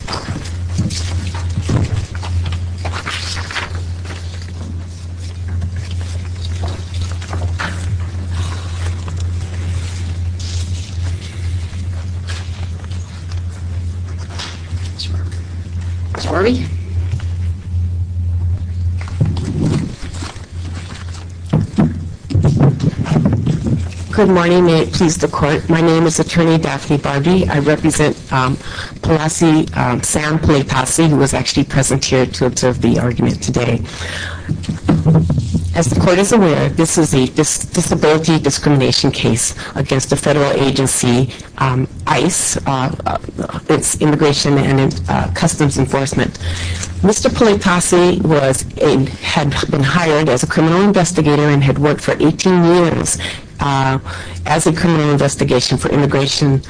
Ms. Barbee? Good morning. May it please the Court. My name is Attorney Daphne Barbee. I represent Palasi, Sam Paletasi, who was actually present here to observe the argument today. As the Court is aware, this is a disability discrimination case against the federal agency ICE, Immigration and Customs Enforcement. Mr. Paletasi had been hired as a criminal investigator and had worked for 18 years as a criminal investigator for Immigration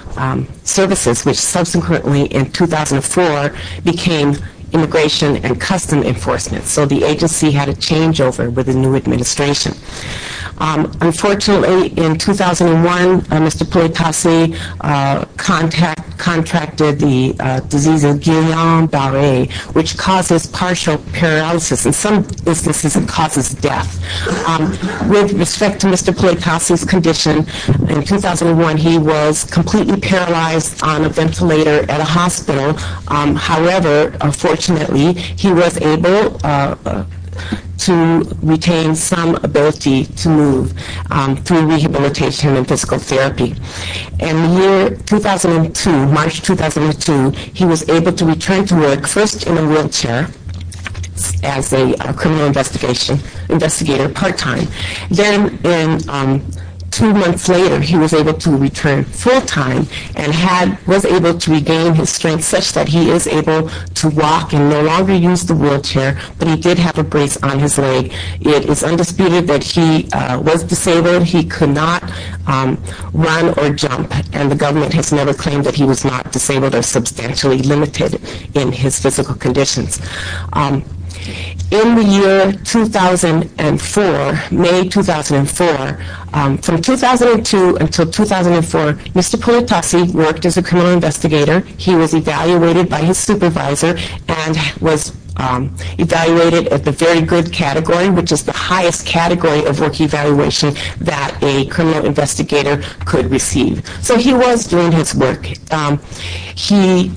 Services, which subsequently, in 2004, became Immigration and Customs Enforcement. So the agency had a changeover with the new administration. Unfortunately, in 2001, Mr. Paletasi contracted the disease of Guillain-Barre, which causes partial paralysis. In some businesses, it causes death. With respect to Mr. Paletasi's condition, in 2001, he was completely paralyzed on a ventilator at a hospital. However, fortunately, he was able to retain some ability to move through rehabilitation and physical therapy. In the year 2002, March 2002, he was able to return to work, first in a wheelchair, as a criminal investigator part-time. Then, two months later, he was able to return full-time and was able to regain his strength such that he is able to walk and no longer use the wheelchair, but he did have a brace on his leg. It is undisputed that he was disabled. He could not run or jump, and the government has never claimed that he was not disabled or substantially limited in his physical conditions. In the year 2004, May 2004, from 2002 until 2004, Mr. Paletasi worked as a criminal investigator. He was evaluated by his supervisor and was evaluated at the very good category, which is the highest category of work evaluation that a criminal investigator could receive. So he was doing his work. He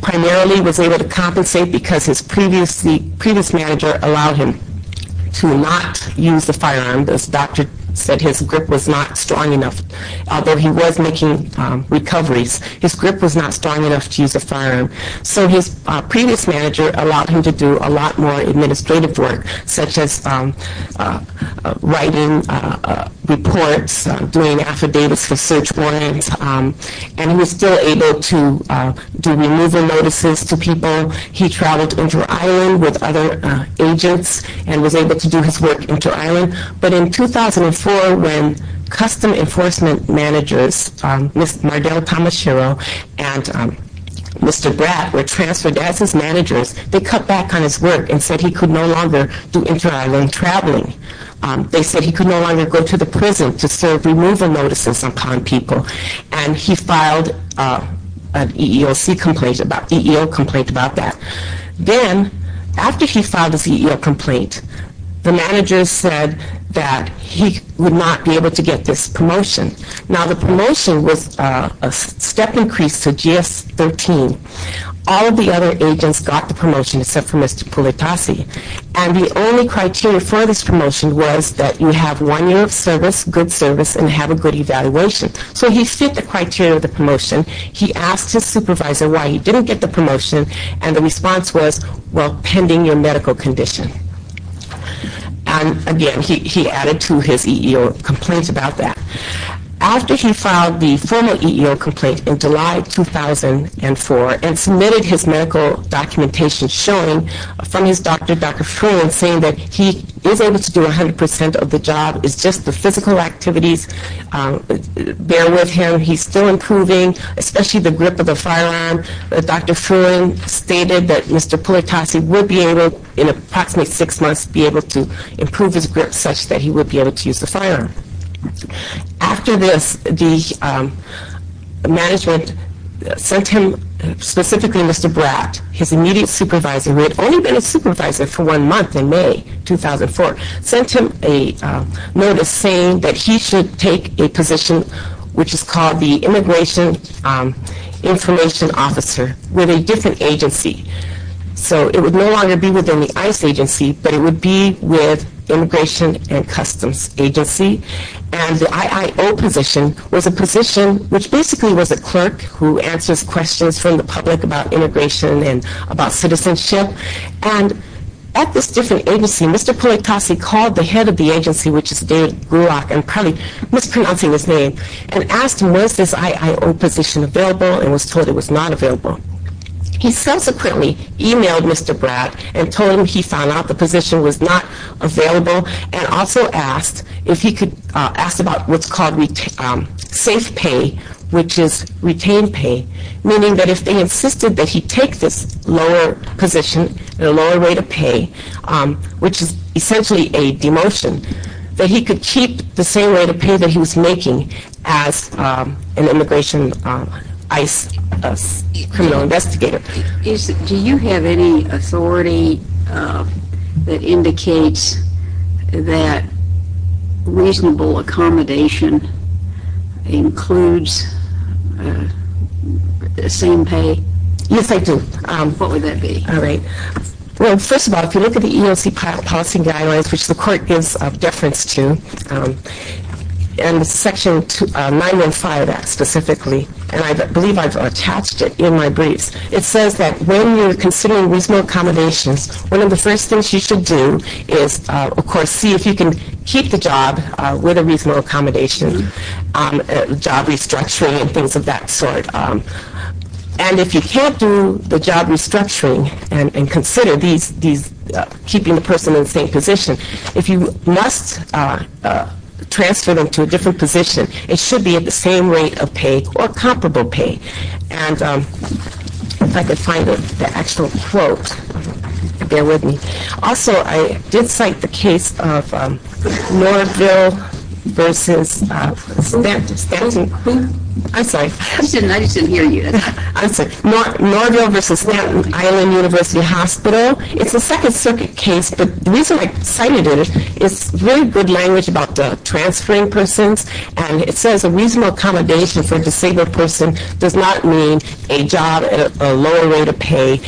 primarily was able to compensate because his previous manager allowed him to not use a firearm. This doctor said his grip was not strong enough, although he was making recoveries. His grip was not strong enough to use a firearm. So his previous manager allowed him to do a lot more administrative work, such as writing reports, doing affidavits for search warrants, and he was still able to do removal notices to people. He traveled inter-island with other agents and was able to do his work inter-island. But in 2004, when custom enforcement managers, Ms. Mardell Tomashiro and Mr. Bratt were transferred as his managers, they cut back on his work and said he could no longer do inter-island traveling. They said he could no longer go to the prison to serve removal notices upon people, and he filed an EEO complaint about that. Then, after he filed his EEO complaint, the managers said that he would not be able to get this promotion. Now the promotion was a step increase to GS-13. All of the other agents got the promotion except for Mr. Pulitasi, and the only criteria for this promotion was that you have one year of service, good service, and have a good evaluation. So he fit the criteria of the promotion. He asked his supervisor why he didn't get the promotion, and the response was, well, pending your medical condition. And again, he added to his EEO complaint about that. After he filed the formal EEO complaint in July 2004 and submitted his medical documentation showing from his doctor, Dr. Fruin, saying that he is able to do 100% of the job. It's just the physical activities bear with him. He's still improving, especially the grip of the firearm. Dr. Fruin stated that Mr. Pulitasi would be able, in approximately six months, be able to improve his grip such that he would be able to use the firearm. After this, the management sent him, specifically Mr. Bratt, his immediate supervisor, who had only been a supervisor for one month in May 2004, sent him a notice saying that he should take a position which is called the Immigration Information Officer with a different agency. So it would no longer be within the ICE agency, but it would be with Immigration and the IIO position was a position which basically was a clerk who answers questions from the public about immigration and about citizenship. And at this different agency, Mr. Pulitasi called the head of the agency, which is Dave Gulak, and probably mispronouncing his name, and asked him was this IIO position available and was told it was not available. He subsequently emailed Mr. Bratt and told him he found out the position was not available and also asked if he could, asked about what's called safe pay, which is retained pay, meaning that if they insisted that he take this lower position and a lower rate of pay, which is essentially a demotion, that he could keep the same rate of pay that he was making as an immigration ICE criminal investigator. Do you have any authority that indicates that reasonable accommodation includes the same pay? Yes, I do. What would that be? All right. Well, first of all, if you look at the EEOC policy guidelines, which the court gives deference to, and section 915 of that specifically, and I believe I've attached it in my briefs, it says that when you're considering reasonable accommodations, one of the first things you should do is, of course, see if you can keep the job with a reasonable accommodation, job restructuring and things of that sort. And if you can't do the job restructuring and consider keeping the person in the same position, if you must transfer them to a different position, it should be at the same rate of pay or comparable pay. And if I could find the actual quote, bear with me. Also, I did cite the case of Norville versus Stanton. Who? I'm sorry. I just didn't hear you. I'm sorry. Norville versus Stanton Island University Hospital. It's a Second Circuit case, but the reason I cited it is it's very good language about transferring persons, and it says a reasonable accommodation for a disabled person does not mean a job at a lower rate of pay.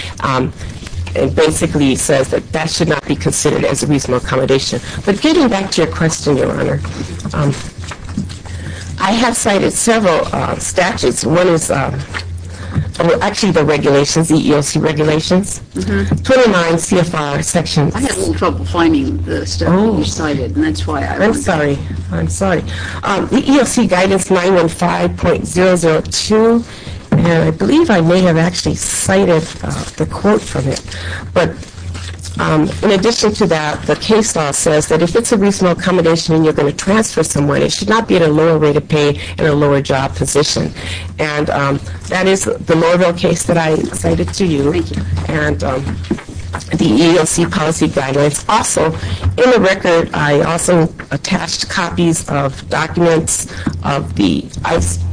It basically says that that should not be considered as a reasonable accommodation. But getting back to your question, Your Honor, I have cited several statutes. One is actually the regulations, the EEOC regulations. Twenty-nine CFR sections. I had a little trouble finding the stuff that you cited, and that's why I wasn't I'm sorry. I'm sorry. The EEOC guidance 915.002, and I believe I may have actually cited the quote from it. But in addition to that, the case law says that if it's a reasonable accommodation and you're going to transfer someone, it should not be at a lower rate of pay and a lower job position. And that is the Norville case that I cited to you. Thank you. And the EEOC policy guidelines. Also, in the record, I also attached copies of documents of the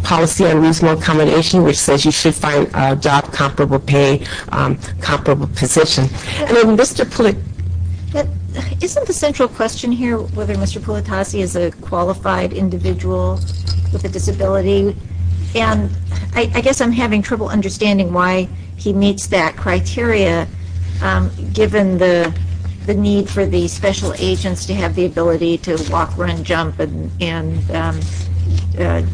policy on reasonable accommodation, which says you should find a job comparable pay, comparable position. Isn't the central question here whether Mr. Politasi is a qualified individual with a disability? And I guess I'm having trouble understanding why he meets that criteria, given the need for the special agents to have the ability to walk, run, jump, and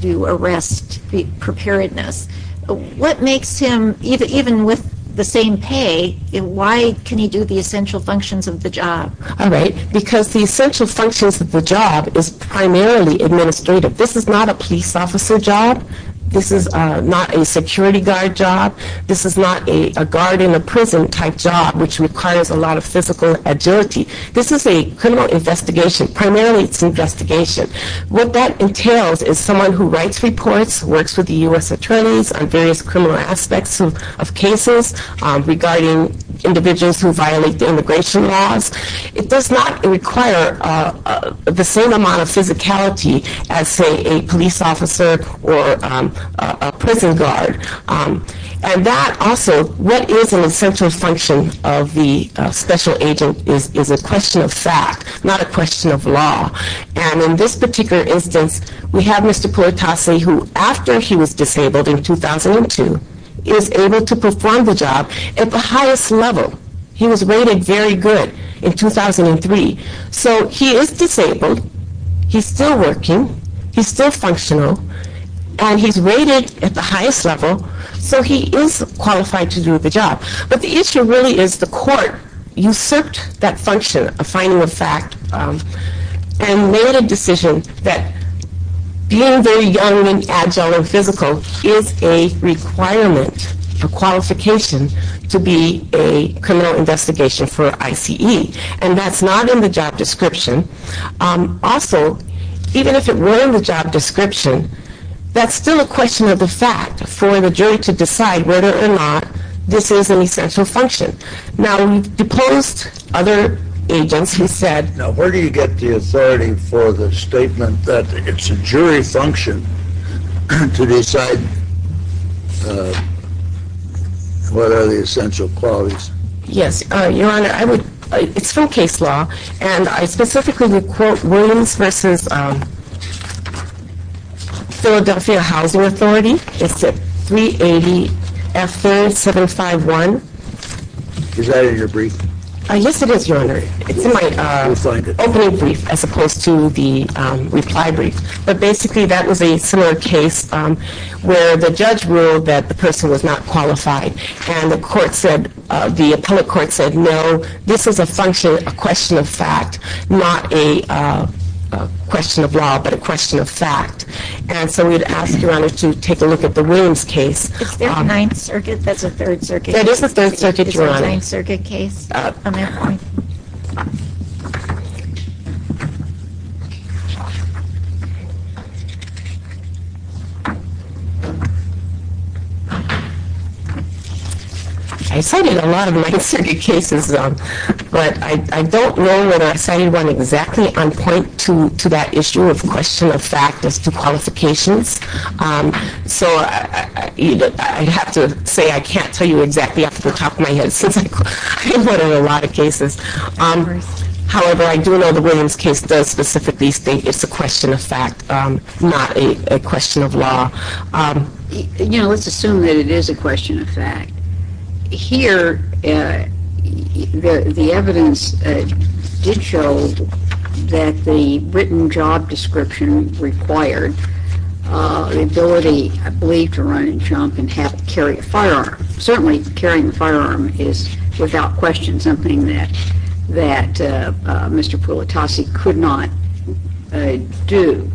do arrest preparedness. What makes him, even with the same pay, why can he do the essential functions of the job? All right. Because the essential functions of the job is primarily administrative. This is not a police officer job. This is not a security guard job. This is not a guard in a prison type job, which requires a lot of physical agility. Primarily, it's an investigation. What that entails is someone who writes reports, works with the U.S. attorneys on various criminal aspects of cases regarding individuals who violate the immigration laws. It does not require the same amount of physicality as, say, a police officer or a prison guard. And that also, what is an essential function of the special agent is a question of fact, not a question of law. And in this particular instance, we have Mr. Puertasi, who, after he was disabled in 2002, is able to perform the job at the highest level. He was rated very good in 2003. So he is disabled. He's still working. He's still functional. And he's rated at the highest level, so he is qualified to do the job. But the issue really is the court usurped that function of finding the fact and made a decision that being very young and agile and physical is a requirement, a qualification to be a criminal investigation for ICE. And that's not in the job description. Also, even if it were in the job description, that's still a question of the fact for the jury to decide whether or not this is an essential function. Now, we've deposed other agents who said— Now, where do you get the authority for the statement that it's a jury function to decide what are the essential qualities? Yes, Your Honor, I would—it's from case law. And I specifically would quote Williams v. Philadelphia Housing Authority. It's at 380F3751. Is that in your brief? Yes, it is, Your Honor. It's in my opening brief as opposed to the reply brief. But basically, that was a similar case where the judge ruled that the person was not qualified. And the court said—the appellate court said, no, this is a function, a question of fact, not a question of law, but a question of fact. And so we would ask, Your Honor, to take a look at the Williams case. Is there a Ninth Circuit? That's a Third Circuit case. That is a Third Circuit, Your Honor. Is there a Ninth Circuit case? I cited a lot of Ninth Circuit cases, but I don't know whether I cited one exactly on point to that issue of question of fact as to qualifications. So I'd have to say I can't tell you exactly off the top of my head since I've quoted a lot of cases. However, I do know the Williams case does specifically state it's a question of fact, not a question of law. You know, let's assume that it is a question of fact. Here, the evidence did show that the written job description required the ability, I believe, to run and jump and carry a firearm. Certainly, carrying a firearm is, without question, something that Mr. Pulitasi could not do.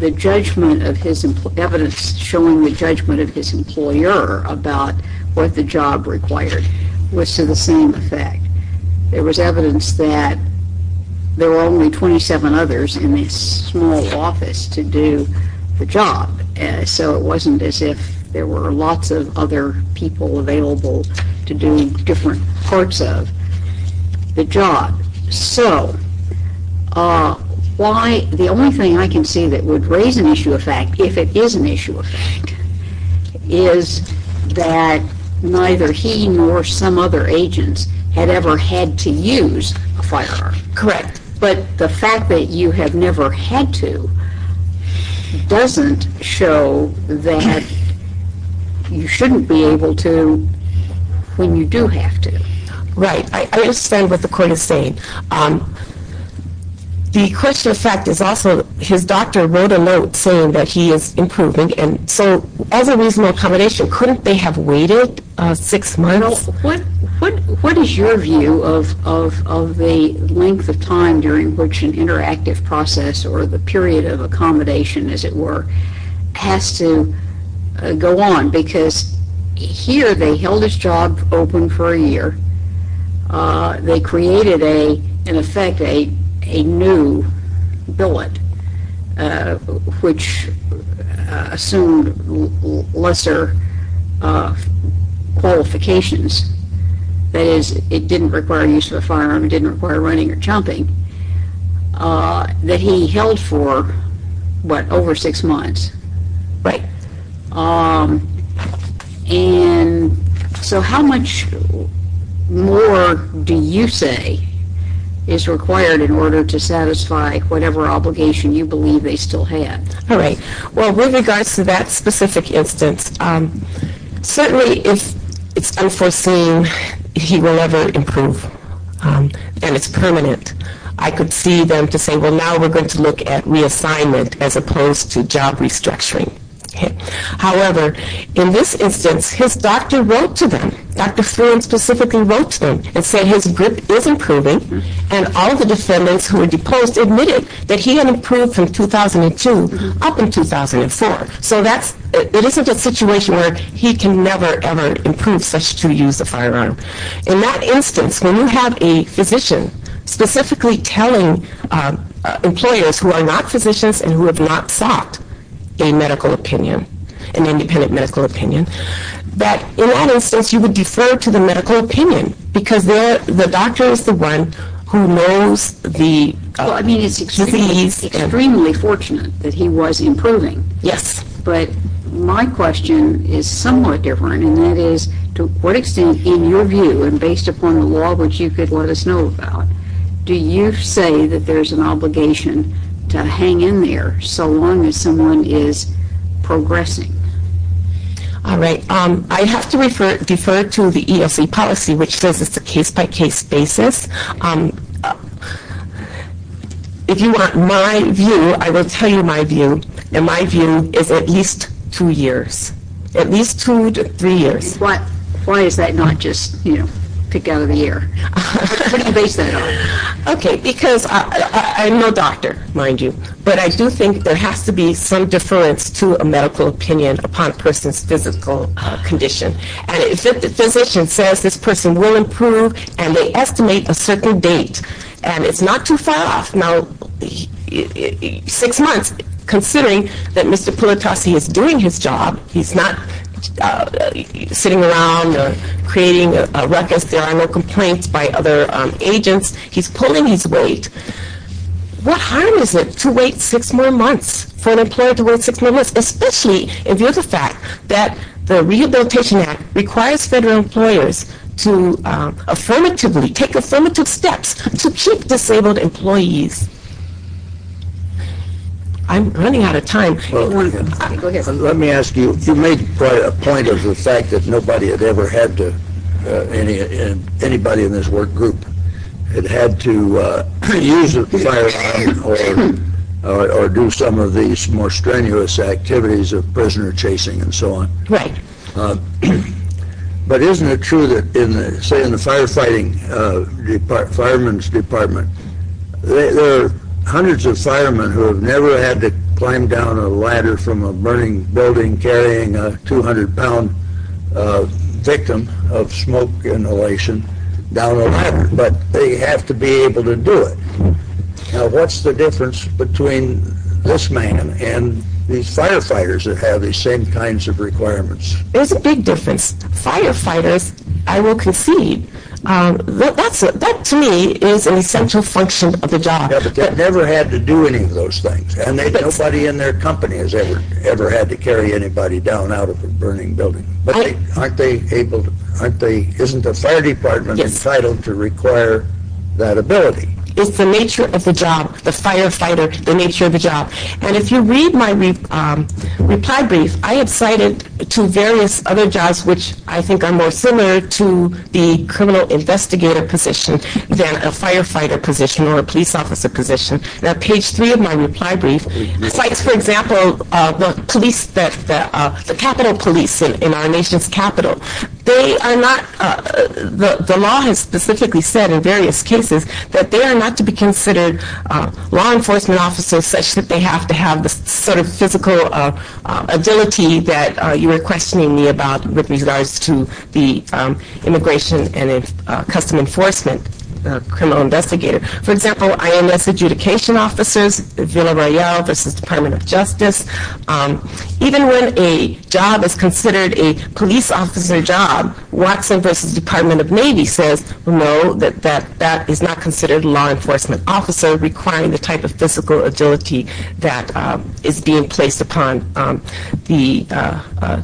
The evidence showing the judgment of his employer about what the job required was to the same effect. There was evidence that there were only 27 others in the small office to do the job, so it wasn't as if there were lots of other people available to do different parts of the job. So, the only thing I can see that would raise an issue of fact, if it is an issue of fact, is that neither he nor some other agents had ever had to use a firearm. Correct. But the fact that you have never had to doesn't show that you shouldn't be able to when you do have to. Right. I understand what the court is saying. The question of fact is also his doctor wrote a note saying that he is improving. So, as a reasonable accommodation, couldn't they have waited six months? What is your view of the length of time during which an interactive process or the period of accommodation, as it were, has to go on? Because here they held his job open for a year. They created, in effect, a new billet, which assumed lesser qualifications. That is, it didn't require use of a firearm. It didn't require running or jumping. That he held for, what, over six months? Right. So, how much more do you say is required in order to satisfy whatever obligation you believe they still had? Well, with regards to that specific instance, certainly if it is unforeseen, he will never improve and it is permanent. I could see them saying, well, now we are going to look at reassignment as opposed to job restructuring. However, in this instance, his doctor wrote to them, Dr. Flynn specifically wrote to them and said his grip is improving and all the defendants who were deposed admitted that he had improved from 2002 up in 2004. So, it isn't a situation where he can never, ever improve such to use a firearm. In that instance, when you have a physician specifically telling employers who are not physicians and who have not sought a medical opinion, an independent medical opinion, that in that instance you would defer to the medical opinion because the doctor is the one who knows the disease. Well, I mean, it is extremely fortunate that he was improving. Yes. But my question is somewhat different and that is to what extent in your view and based upon the law which you could let us know about, do you say that there is an obligation to hang in there so long as someone is progressing? All right. I have to defer to the EEOC policy which says it is a case-by-case basis. If you want my view, I will tell you my view and my view is at least two years, at least two to three years. Why is that not just, you know, together in a year? What do you base that on? Okay. Because I am no doctor, mind you, but I do think there has to be some deference to a medical opinion upon a person's physical condition. And if the physician says this person will improve and they estimate a certain date and it is not too far off. Now, six months, considering that Mr. Politasi is doing his job, he is not sitting around or creating a ruckus. There are no complaints by other agents. He is pulling his weight. What harm is it to wait six more months, for an employer to wait six more months, especially if there is a fact that the Rehabilitation Act requires federal employers to affirmatively take affirmative steps to treat disabled employees? I am running out of time. Let me ask you, you made quite a point of the fact that nobody had ever had to, anybody in this work group, had had to use a firearm or do some of these more strenuous activities of prisoner chasing and so on. Right. But isn't it true that, say in the firefighting department, fireman's department, there are hundreds of firemen who have never had to climb down a ladder from a burning building carrying a 200 pound victim of smoke inhalation down a ladder. But they have to be able to do it. Now, what's the difference between this man and these firefighters that have these same kinds of requirements? There's a big difference. Firefighters, I will concede, that to me is an essential function of the job. But they've never had to do any of those things. And nobody in their company has ever had to carry anybody down out of a burning building. But aren't they able, isn't the fire department entitled to require that ability? It's the nature of the job, the firefighter, the nature of the job. And if you read my reply brief, I have cited two various other jobs which I think are more similar to the criminal investigator position than a firefighter position or a police officer position. Now, page three of my reply brief cites, for example, the police, the Capitol Police in our nation's capital. They are not, the law has specifically said in various cases that they are not to be considered law enforcement officers such that they have to have the sort of physical ability that you were questioning me about with regards to the immigration and custom enforcement criminal investigator. For example, IMS adjudication officers, the Villa Royale versus Department of Justice. Even when a job is considered a police officer job, Watson versus Department of Navy says no, that is not considered a law enforcement officer requiring the type of physical agility that is being placed upon the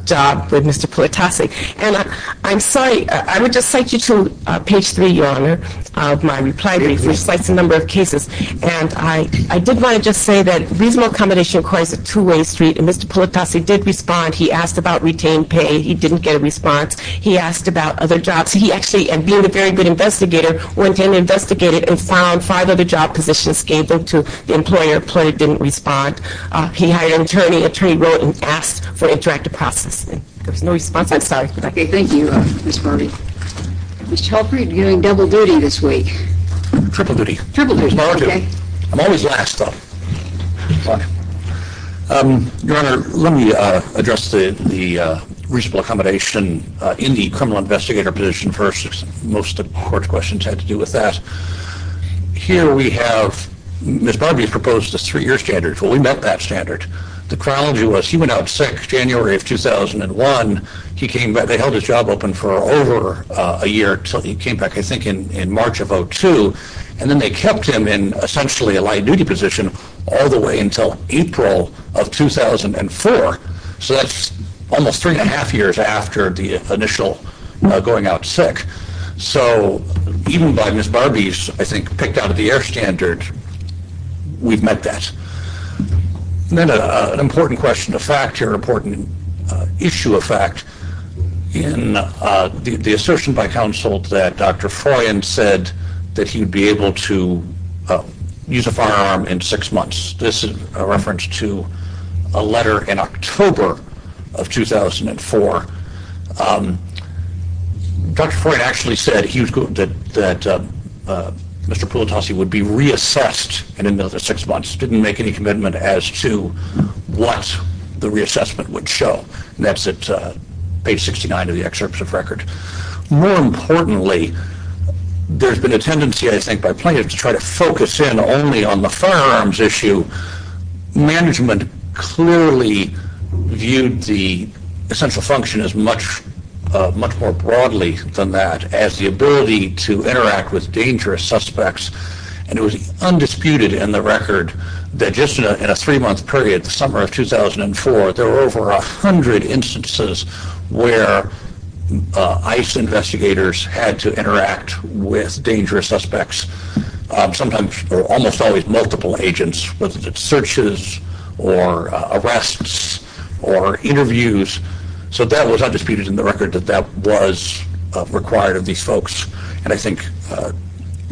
job with Mr. Politasi. And I'm sorry, I would just cite you to page three, Your Honor, of my reply brief, which cites a number of cases. And I did want to just say that reasonable accommodation requires a two-way street, and Mr. Politasi did respond. He asked about retained pay. He didn't get a response. He asked about other jobs. He actually, being a very good investigator, went in and investigated and found five other job positions, gave them to the employer, the employer didn't respond. He hired an attorney, the attorney wrote and asked for interactive processing. There was no response. I'm sorry. Thank you, Ms. Barbee. Mr. Halperin, you're doing double duty this week. Triple duty. Triple duty. I'm always last, though. Your Honor, let me address the reasonable accommodation in the criminal investigator position first. Most of the court's questions had to do with that. Here we have Ms. Barbee proposed a three-year standard. Well, we met that standard. The chronology was he went out sick January of 2001. He came back. They held his job open for over a year until he came back, I think, in March of 2002. And then they kept him in essentially a light duty position all the way until April of 2004. So that's almost three and a half years after the initial going out sick. So even by Ms. Barbee's, I think, picked out of the air standard, we've met that. And then an important question of fact here, an important issue of fact, in the assertion by counsel that Dr. Froyen said that he would be able to use a firearm in six months. This is a reference to a letter in October of 2004. Dr. Froyen actually said that Mr. Pulitasi would be reassessed in another six months, didn't make any commitment as to what the reassessment would show. And that's at page 69 of the excerpts of record. More importantly, there's been a tendency, I think, by plaintiffs to try to focus in only on the firearms issue. Management clearly viewed the essential function as much more broadly than that, as the ability to interact with dangerous suspects. And it was undisputed in the record that just in a three-month period, the summer of 2004, there were over 100 instances where ICE investigators had to interact with dangerous suspects. Sometimes, or almost always, multiple agents, whether it's searches or arrests or interviews. So that was undisputed in the record that that was required of these folks. And I think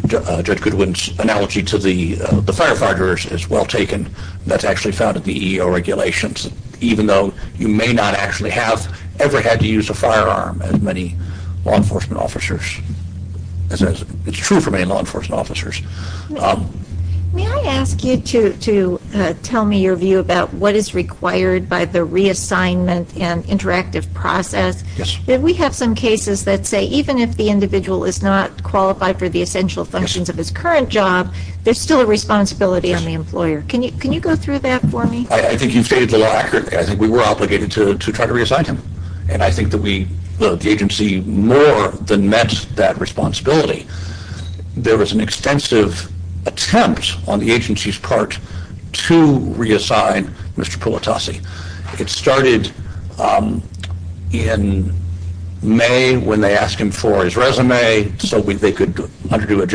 Judge Goodwin's analogy to the firefighters is well taken. That's actually found at the EEO regulations, even though you may not actually have ever had to use a firearm, as many law enforcement officers. It's true for many law enforcement officers. May I ask you to tell me your view about what is required by the reassignment and interactive process? Yes. We have some cases that say even if the individual is not qualified for the essential functions of his current job, there's still a responsibility on the employer. Can you go through that for me? I think you've stated it a lot accurately. I think we were obligated to try to reassign him. And I think that we, the agency, more than met that responsibility. There was an extensive attempt on the agency's part to reassign Mr. Pulitasi. It started in May when they asked him for his resume so they could undergo a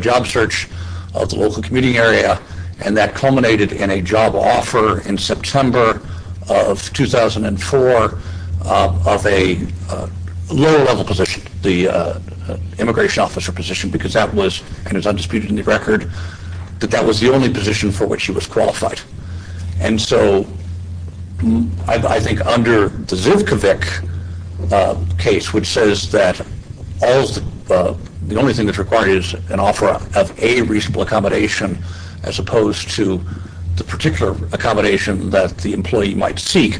job search of the local community area. And that culminated in a job offer in September of 2004 of a lower level position, the immigration officer position, because that was, and it's undisputed in the record, that that was the only position for which he was qualified. And so I think under the Zuvkovic case, which says that the only thing that's required is an offer of a reasonable accommodation as opposed to the particular accommodation that the employee might seek,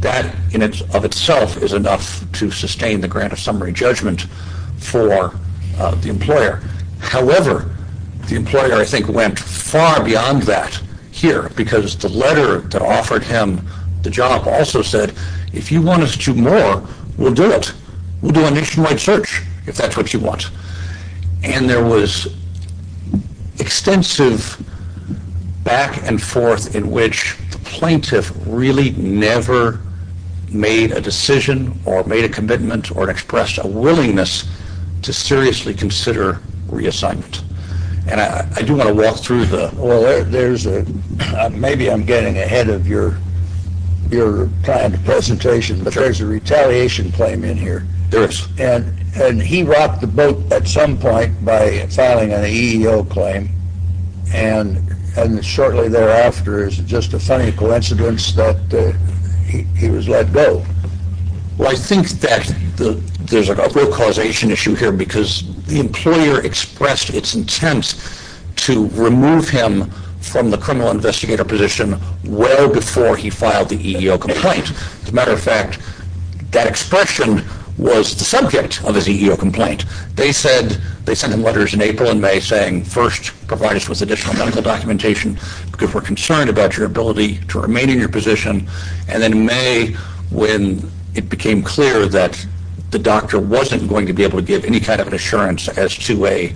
that in and of itself is enough to sustain the grant of summary judgment for the employer. However, the employer, I think, went far beyond that here, because the letter that offered him the job also said, if you want us to do more, we'll do it. We'll do a nationwide search if that's what you want. And there was extensive back and forth in which the plaintiff really never made a decision or made a commitment or expressed a willingness to seriously consider reassignment. And I do want to walk through the... Well, maybe I'm getting ahead of your planned presentation, but there's a retaliation claim in here. There is. And he rocked the boat at some point by filing an EEO claim, and shortly thereafter it's just a funny coincidence that he was let go. Well, I think that there's a real causation issue here, because the employer expressed its intent to remove him from the criminal investigator position well before he filed the EEO complaint. As a matter of fact, that expression was the subject of his EEO complaint. They sent him letters in April and May saying, first, provide us with additional medical documentation, because we're concerned about your ability to remain in your position. And then in May, when it became clear that the doctor wasn't going to be able to give any kind of assurance as to a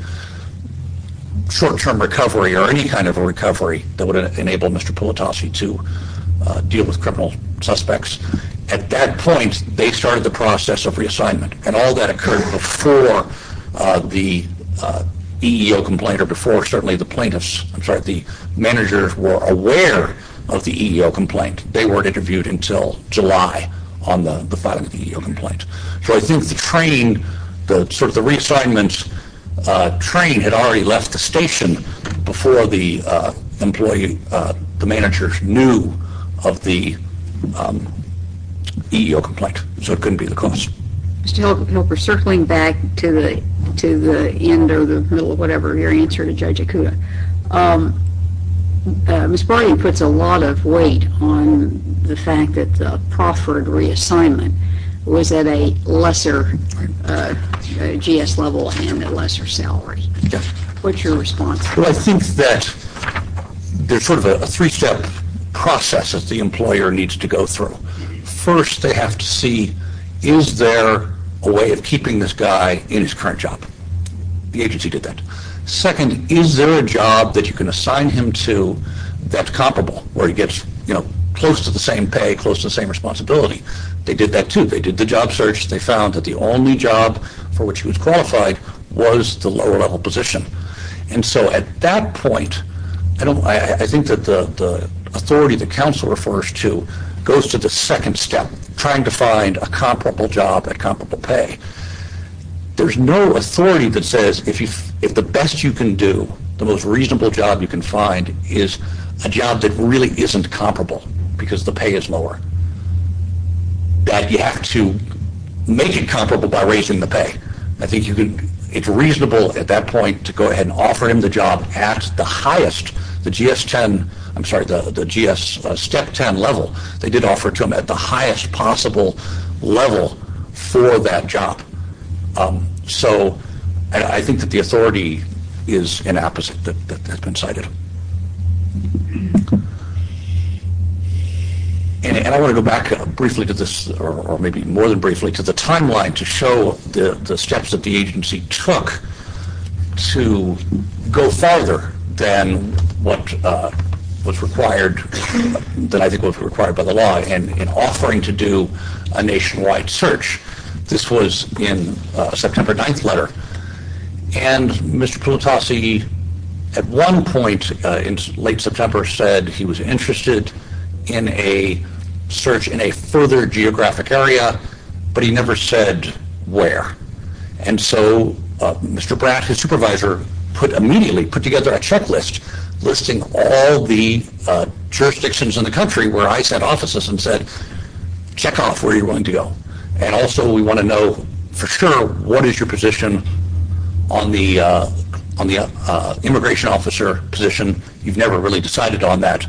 short-term recovery or any kind of a recovery that would enable Mr. Politasi to deal with criminal suspects, at that point they started the process of reassignment. And all that occurred before the EEO complaint or before certainly the plaintiffs. I'm sorry, the managers were aware of the EEO complaint. They weren't interviewed until July on the filing of the EEO complaint. So I think the train, sort of the reassignment train had already left the station before the managers knew of the EEO complaint, so it couldn't be the cause. Mr. Helper, circling back to the end or the middle of whatever, your answer to Judge Ikuda, Ms. Barney puts a lot of weight on the fact that the Crawford reassignment was at a lesser GS level and a lesser salary. What's your response? Well, I think that there's sort of a three-step process that the employer needs to go through. First, they have to see, is there a way of keeping this guy in his current job? The agency did that. Second, is there a job that you can assign him to that's comparable, where he gets close to the same pay, close to the same responsibility? They did that too. They did the job search. They found that the only job for which he was qualified was the lower-level position. And so at that point, I think that the authority that counsel refers to goes to the second step, trying to find a comparable job at comparable pay. There's no authority that says if the best you can do, the most reasonable job you can find, is a job that really isn't comparable because the pay is lower, that you have to make it comparable by raising the pay. I think it's reasonable at that point to go ahead and offer him the job at the highest, the GS-Step 10 level. They did offer it to him at the highest possible level for that job. So I think that the authority is an opposite that has been cited. And I want to go back briefly to this, or maybe more than briefly, to the timeline to show the steps that the agency took to go farther than what was required, than I think was required by the law, in offering to do a nationwide search. And Mr. Pultasi, at one point in late September, said he was interested in a search in a further geographic area, but he never said where. And so Mr. Bratt, his supervisor, immediately put together a checklist listing all the jurisdictions in the country where I sent offices and said, check off where you're willing to go. And also we want to know for sure what is your position on the immigration officer position. You've never really decided on that.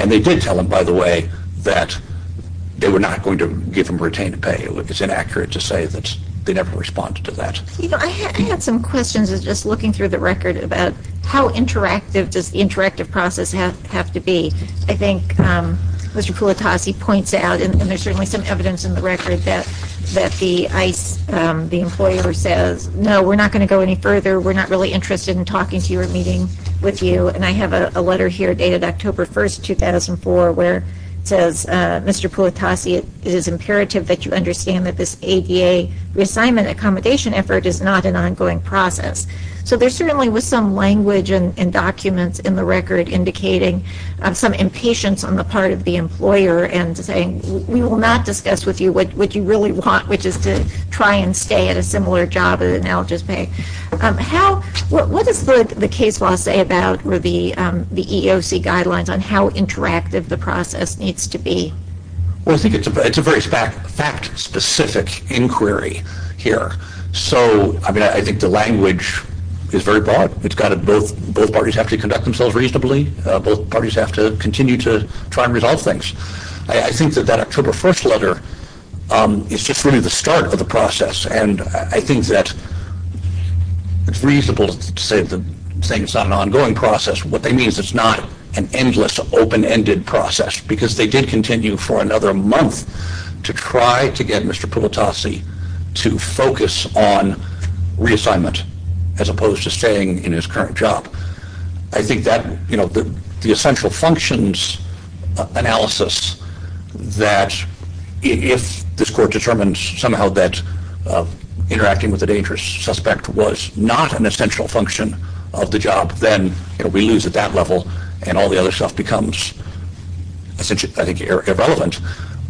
And they did tell him, by the way, that they were not going to give him retained pay. It's inaccurate to say that they never responded to that. You know, I had some questions just looking through the record about how interactive does the interactive process have to be. And I think Mr. Pultasi points out, and there's certainly some evidence in the record, that the employer says, no, we're not going to go any further. We're not really interested in talking to you or meeting with you. And I have a letter here dated October 1, 2004, where it says, Mr. Pultasi, it is imperative that you understand that this ADA reassignment accommodation effort is not an ongoing process. So there certainly was some language and documents in the record indicating some impatience on the part of the employer and saying we will not discuss with you what you really want, which is to try and stay at a similar job and now just pay. What does the case law say about the EEOC guidelines on how interactive the process needs to be? Well, I think it's a very fact-specific inquiry here. So, I mean, I think the language is very broad. Both parties have to conduct themselves reasonably. Both parties have to continue to try and resolve things. I think that that October 1 letter is just really the start of the process. And I think that it's reasonable to say it's not an ongoing process. What they mean is it's not an endless, open-ended process, because they did continue for another month to try to get Mr. Pultasi to focus on reassignment as opposed to staying in his current job. I think that the essential functions analysis that if this court determines somehow that interacting with a dangerous suspect was not an essential function of the job, then we lose at that level and all the other stuff becomes, I think, irrelevant.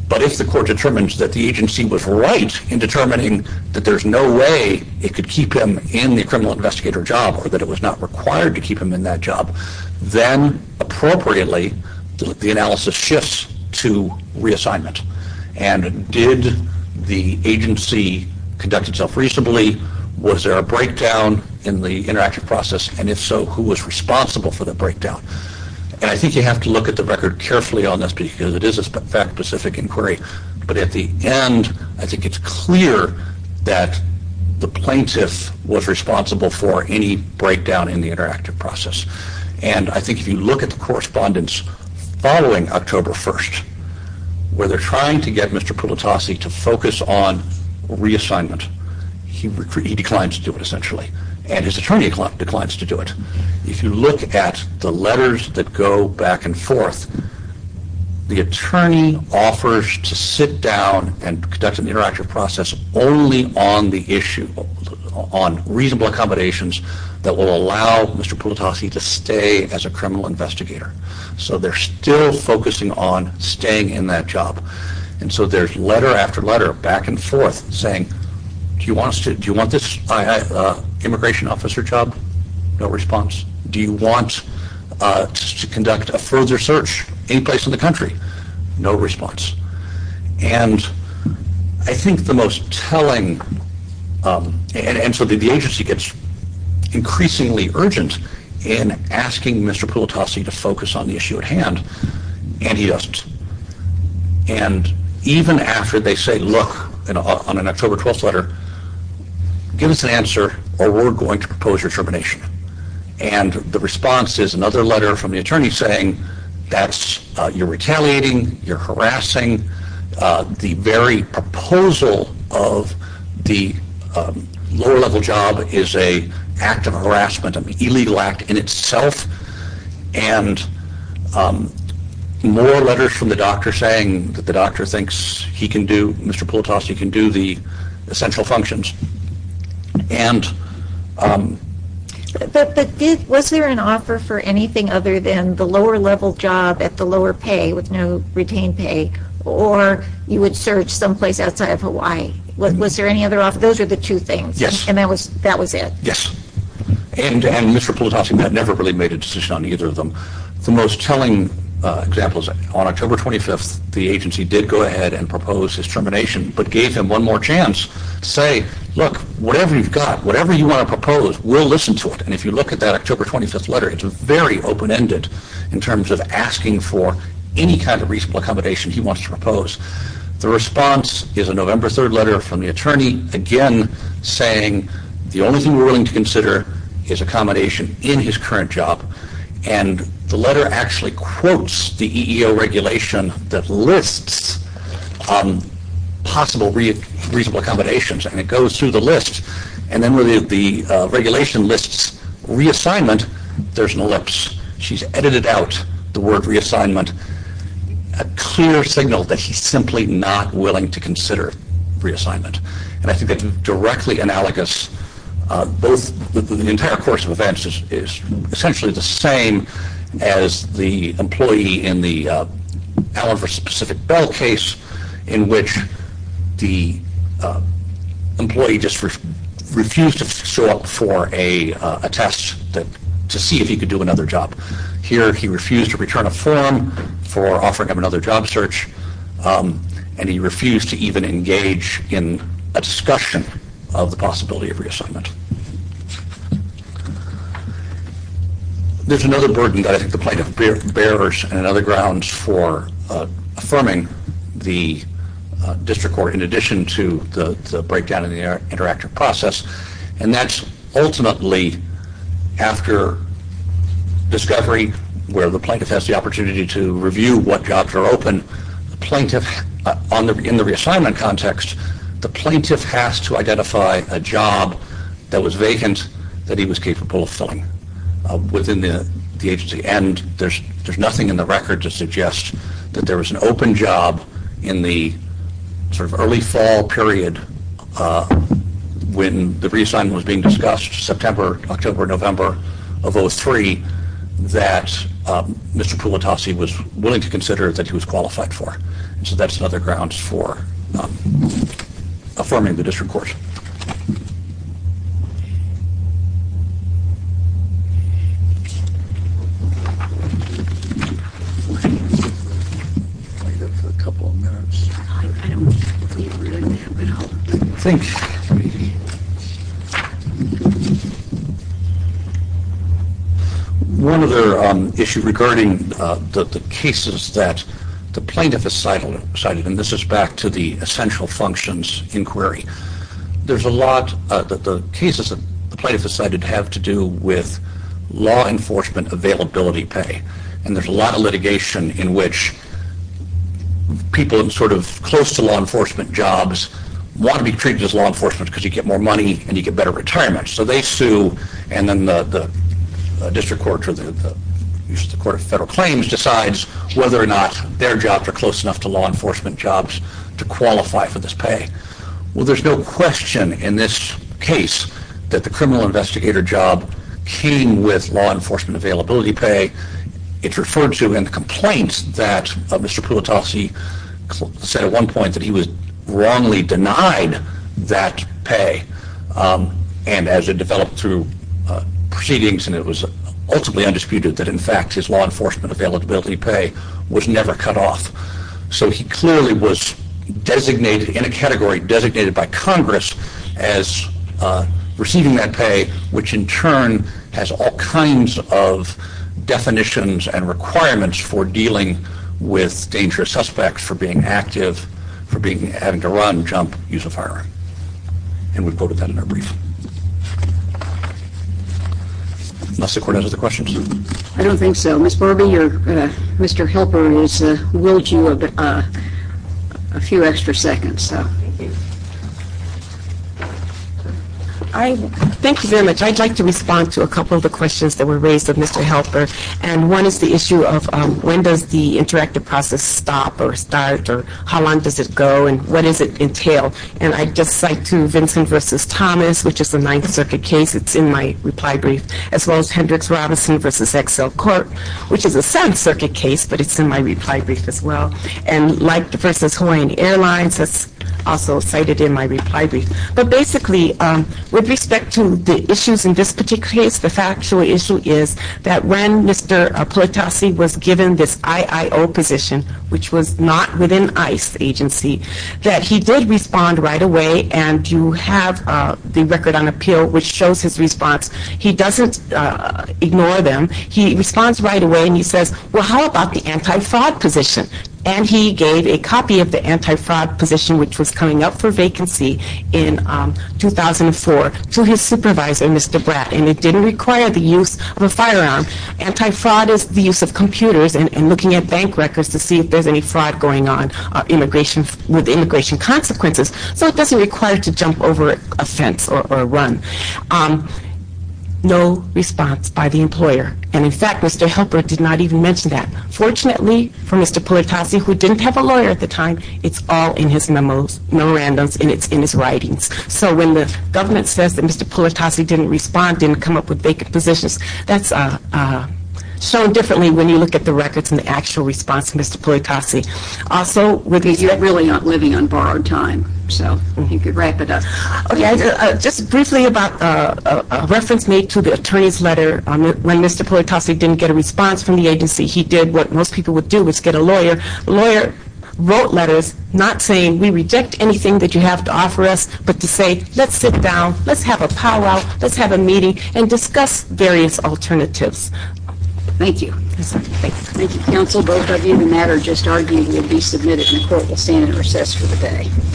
But if the court determines that the agency was right in determining that there's no way it could keep him in the criminal investigator job or that it was not required to keep him in that job, then appropriately the analysis shifts to reassignment. And did the agency conduct itself reasonably? Was there a breakdown in the interactive process? And if so, who was responsible for the breakdown? And I think you have to look at the record carefully on this because it is a fact-specific inquiry. But at the end, I think it's clear that the plaintiff was responsible for any breakdown in the interactive process. And I think if you look at the correspondence following October 1, where they're trying to get Mr. Pultasi to focus on reassignment, he declines to do it, essentially. And his attorney declines to do it. If you look at the letters that go back and forth, the attorney offers to sit down and conduct an interactive process only on the issue, on reasonable accommodations that will allow Mr. Pultasi to stay as a criminal investigator. So they're still focusing on staying in that job. And so there's letter after letter, back and forth, saying, do you want this immigration officer job? No response. Do you want to conduct a further search anyplace in the country? No response. And I think the most telling – and so the agency gets increasingly urgent in asking Mr. Pultasi to focus on the issue at hand, and he doesn't. And even after they say, look, on an October 12 letter, give us an answer or we're going to propose your termination. And the response is another letter from the attorney saying, that's – you're retaliating, you're harassing. The very proposal of the lower-level job is an act of harassment, an illegal act in itself. And more letters from the doctor saying that the doctor thinks he can do – Mr. Pultasi can do the essential functions. But was there an offer for anything other than the lower-level job at the lower pay with no retained pay? Or you would search someplace outside of Hawaii? Was there any other offer? Those are the two things. Yes. And that was it? Yes. And Mr. Pultasi never really made a decision on either of them. The most telling example is on October 25th, the agency did go ahead and propose his termination, but gave him one more chance to say, look, whatever you've got, whatever you want to propose, we'll listen to it. And if you look at that October 25th letter, it's very open-ended in terms of asking for any kind of reasonable accommodation he wants to propose. The response is a November 3rd letter from the attorney, again saying the only thing we're willing to consider is accommodation in his current job. And the letter actually quotes the EEO regulation that lists possible reasonable accommodations, and it goes through the list. And then when the regulation lists reassignment, there's an ellipse. She's edited out the word reassignment, a clear signal that he's simply not willing to consider reassignment. And I think that's directly analogous, the entire course of events is essentially the same as the employee in the Allen v. Pacific Bell case, in which the employee just refused to show up for a test to see if he could do another job. Here he refused to return a form for offering him another job search, and he refused to even engage in a discussion of the possibility of reassignment. There's another burden that I think the plaintiff bears, and another grounds for affirming the district court in addition to the breakdown in the interactive process, and that's ultimately after discovery, where the plaintiff has the opportunity to review what jobs are open, in the reassignment context, the plaintiff has to identify a job that was vacant that he was capable of filling within the agency. And there's nothing in the record to suggest that there was an open job in the early fall period, when the reassignment was being discussed, September, October, November of 03, that Mr. Pulatase was willing to consider that he was qualified for. So that's another grounds for affirming the district court. One other issue regarding the cases that the plaintiff has cited, and this is back to the essential functions inquiry, there's a lot that the cases that the plaintiff has cited have to do with law enforcement availability pay. And there's a lot of litigation in which people in sort of close to law enforcement jobs want to be treated as law enforcement because you get more money and you get better retirement. So they sue, and then the district court or the court of federal claims decides whether or not their jobs are close enough to law enforcement jobs to qualify for this pay. Well there's no question in this case that the criminal investigator job came with law enforcement availability pay. It's referred to in the complaints that Mr. Pulatase said at one point that he was wrongly denied that pay. And as it developed through proceedings and it was ultimately undisputed that in fact his law enforcement availability pay was never cut off. So he clearly was designated in a category designated by Congress as receiving that pay, which in turn has all kinds of definitions and requirements for dealing with dangerous suspects, for being active, for having to run, jump, use a firearm. And we've quoted that in our brief. Unless the court answers the questions. I don't think so. Ms. Borbee, Mr. Helper has willed you a few extra seconds. Thank you very much. I'd like to respond to a couple of the questions that were raised of Mr. Helper. And one is the issue of when does the interactive process stop or start or how long does it go and what does it entail? And I just cite to Vincent v. Thomas, which is a Ninth Circuit case. It's in my reply brief. As well as Hendricks-Robinson v. Excel Court, which is a Seventh Circuit case, but it's in my reply brief as well. And like v. Hawaiian Airlines, that's also cited in my reply brief. But basically, with respect to the issues in this particular case, the factual issue is that when Mr. Pulatase was given this IIO position, which was not within ICE agency, that he did respond right away. And you have the record on appeal, which shows his response. He doesn't ignore them. He responds right away and he says, well, how about the anti-fraud position? And he gave a copy of the anti-fraud position, which was coming up for vacancy in 2004, to his supervisor, Mr. Bratt. And it didn't require the use of a firearm. Anti-fraud is the use of computers and looking at bank records to see if there's any fraud going on with immigration consequences. So it doesn't require to jump over a fence or run. No response by the employer. And in fact, Mr. Helper did not even mention that. Fortunately for Mr. Pulatase, who didn't have a lawyer at the time, it's all in his memos, memorandums, and it's in his writings. So when the government says that Mr. Pulatase didn't respond, didn't come up with vacant positions, that's shown differently when you look at the records and the actual response of Mr. Pulatase. He's really not living on borrowed time, so he could wrap it up. Just briefly about a reference made to the attorney's letter. When Mr. Pulatase didn't get a response from the agency, he did what most people would do, which is get a lawyer. A lawyer wrote letters not saying, we reject anything that you have to offer us, but to say, let's sit down, let's have a powwow, let's have a meeting, and discuss various alternatives. Thank you. Thank you, counsel. Both of you, the matter just argued will be submitted and the court will stand in recess for the day.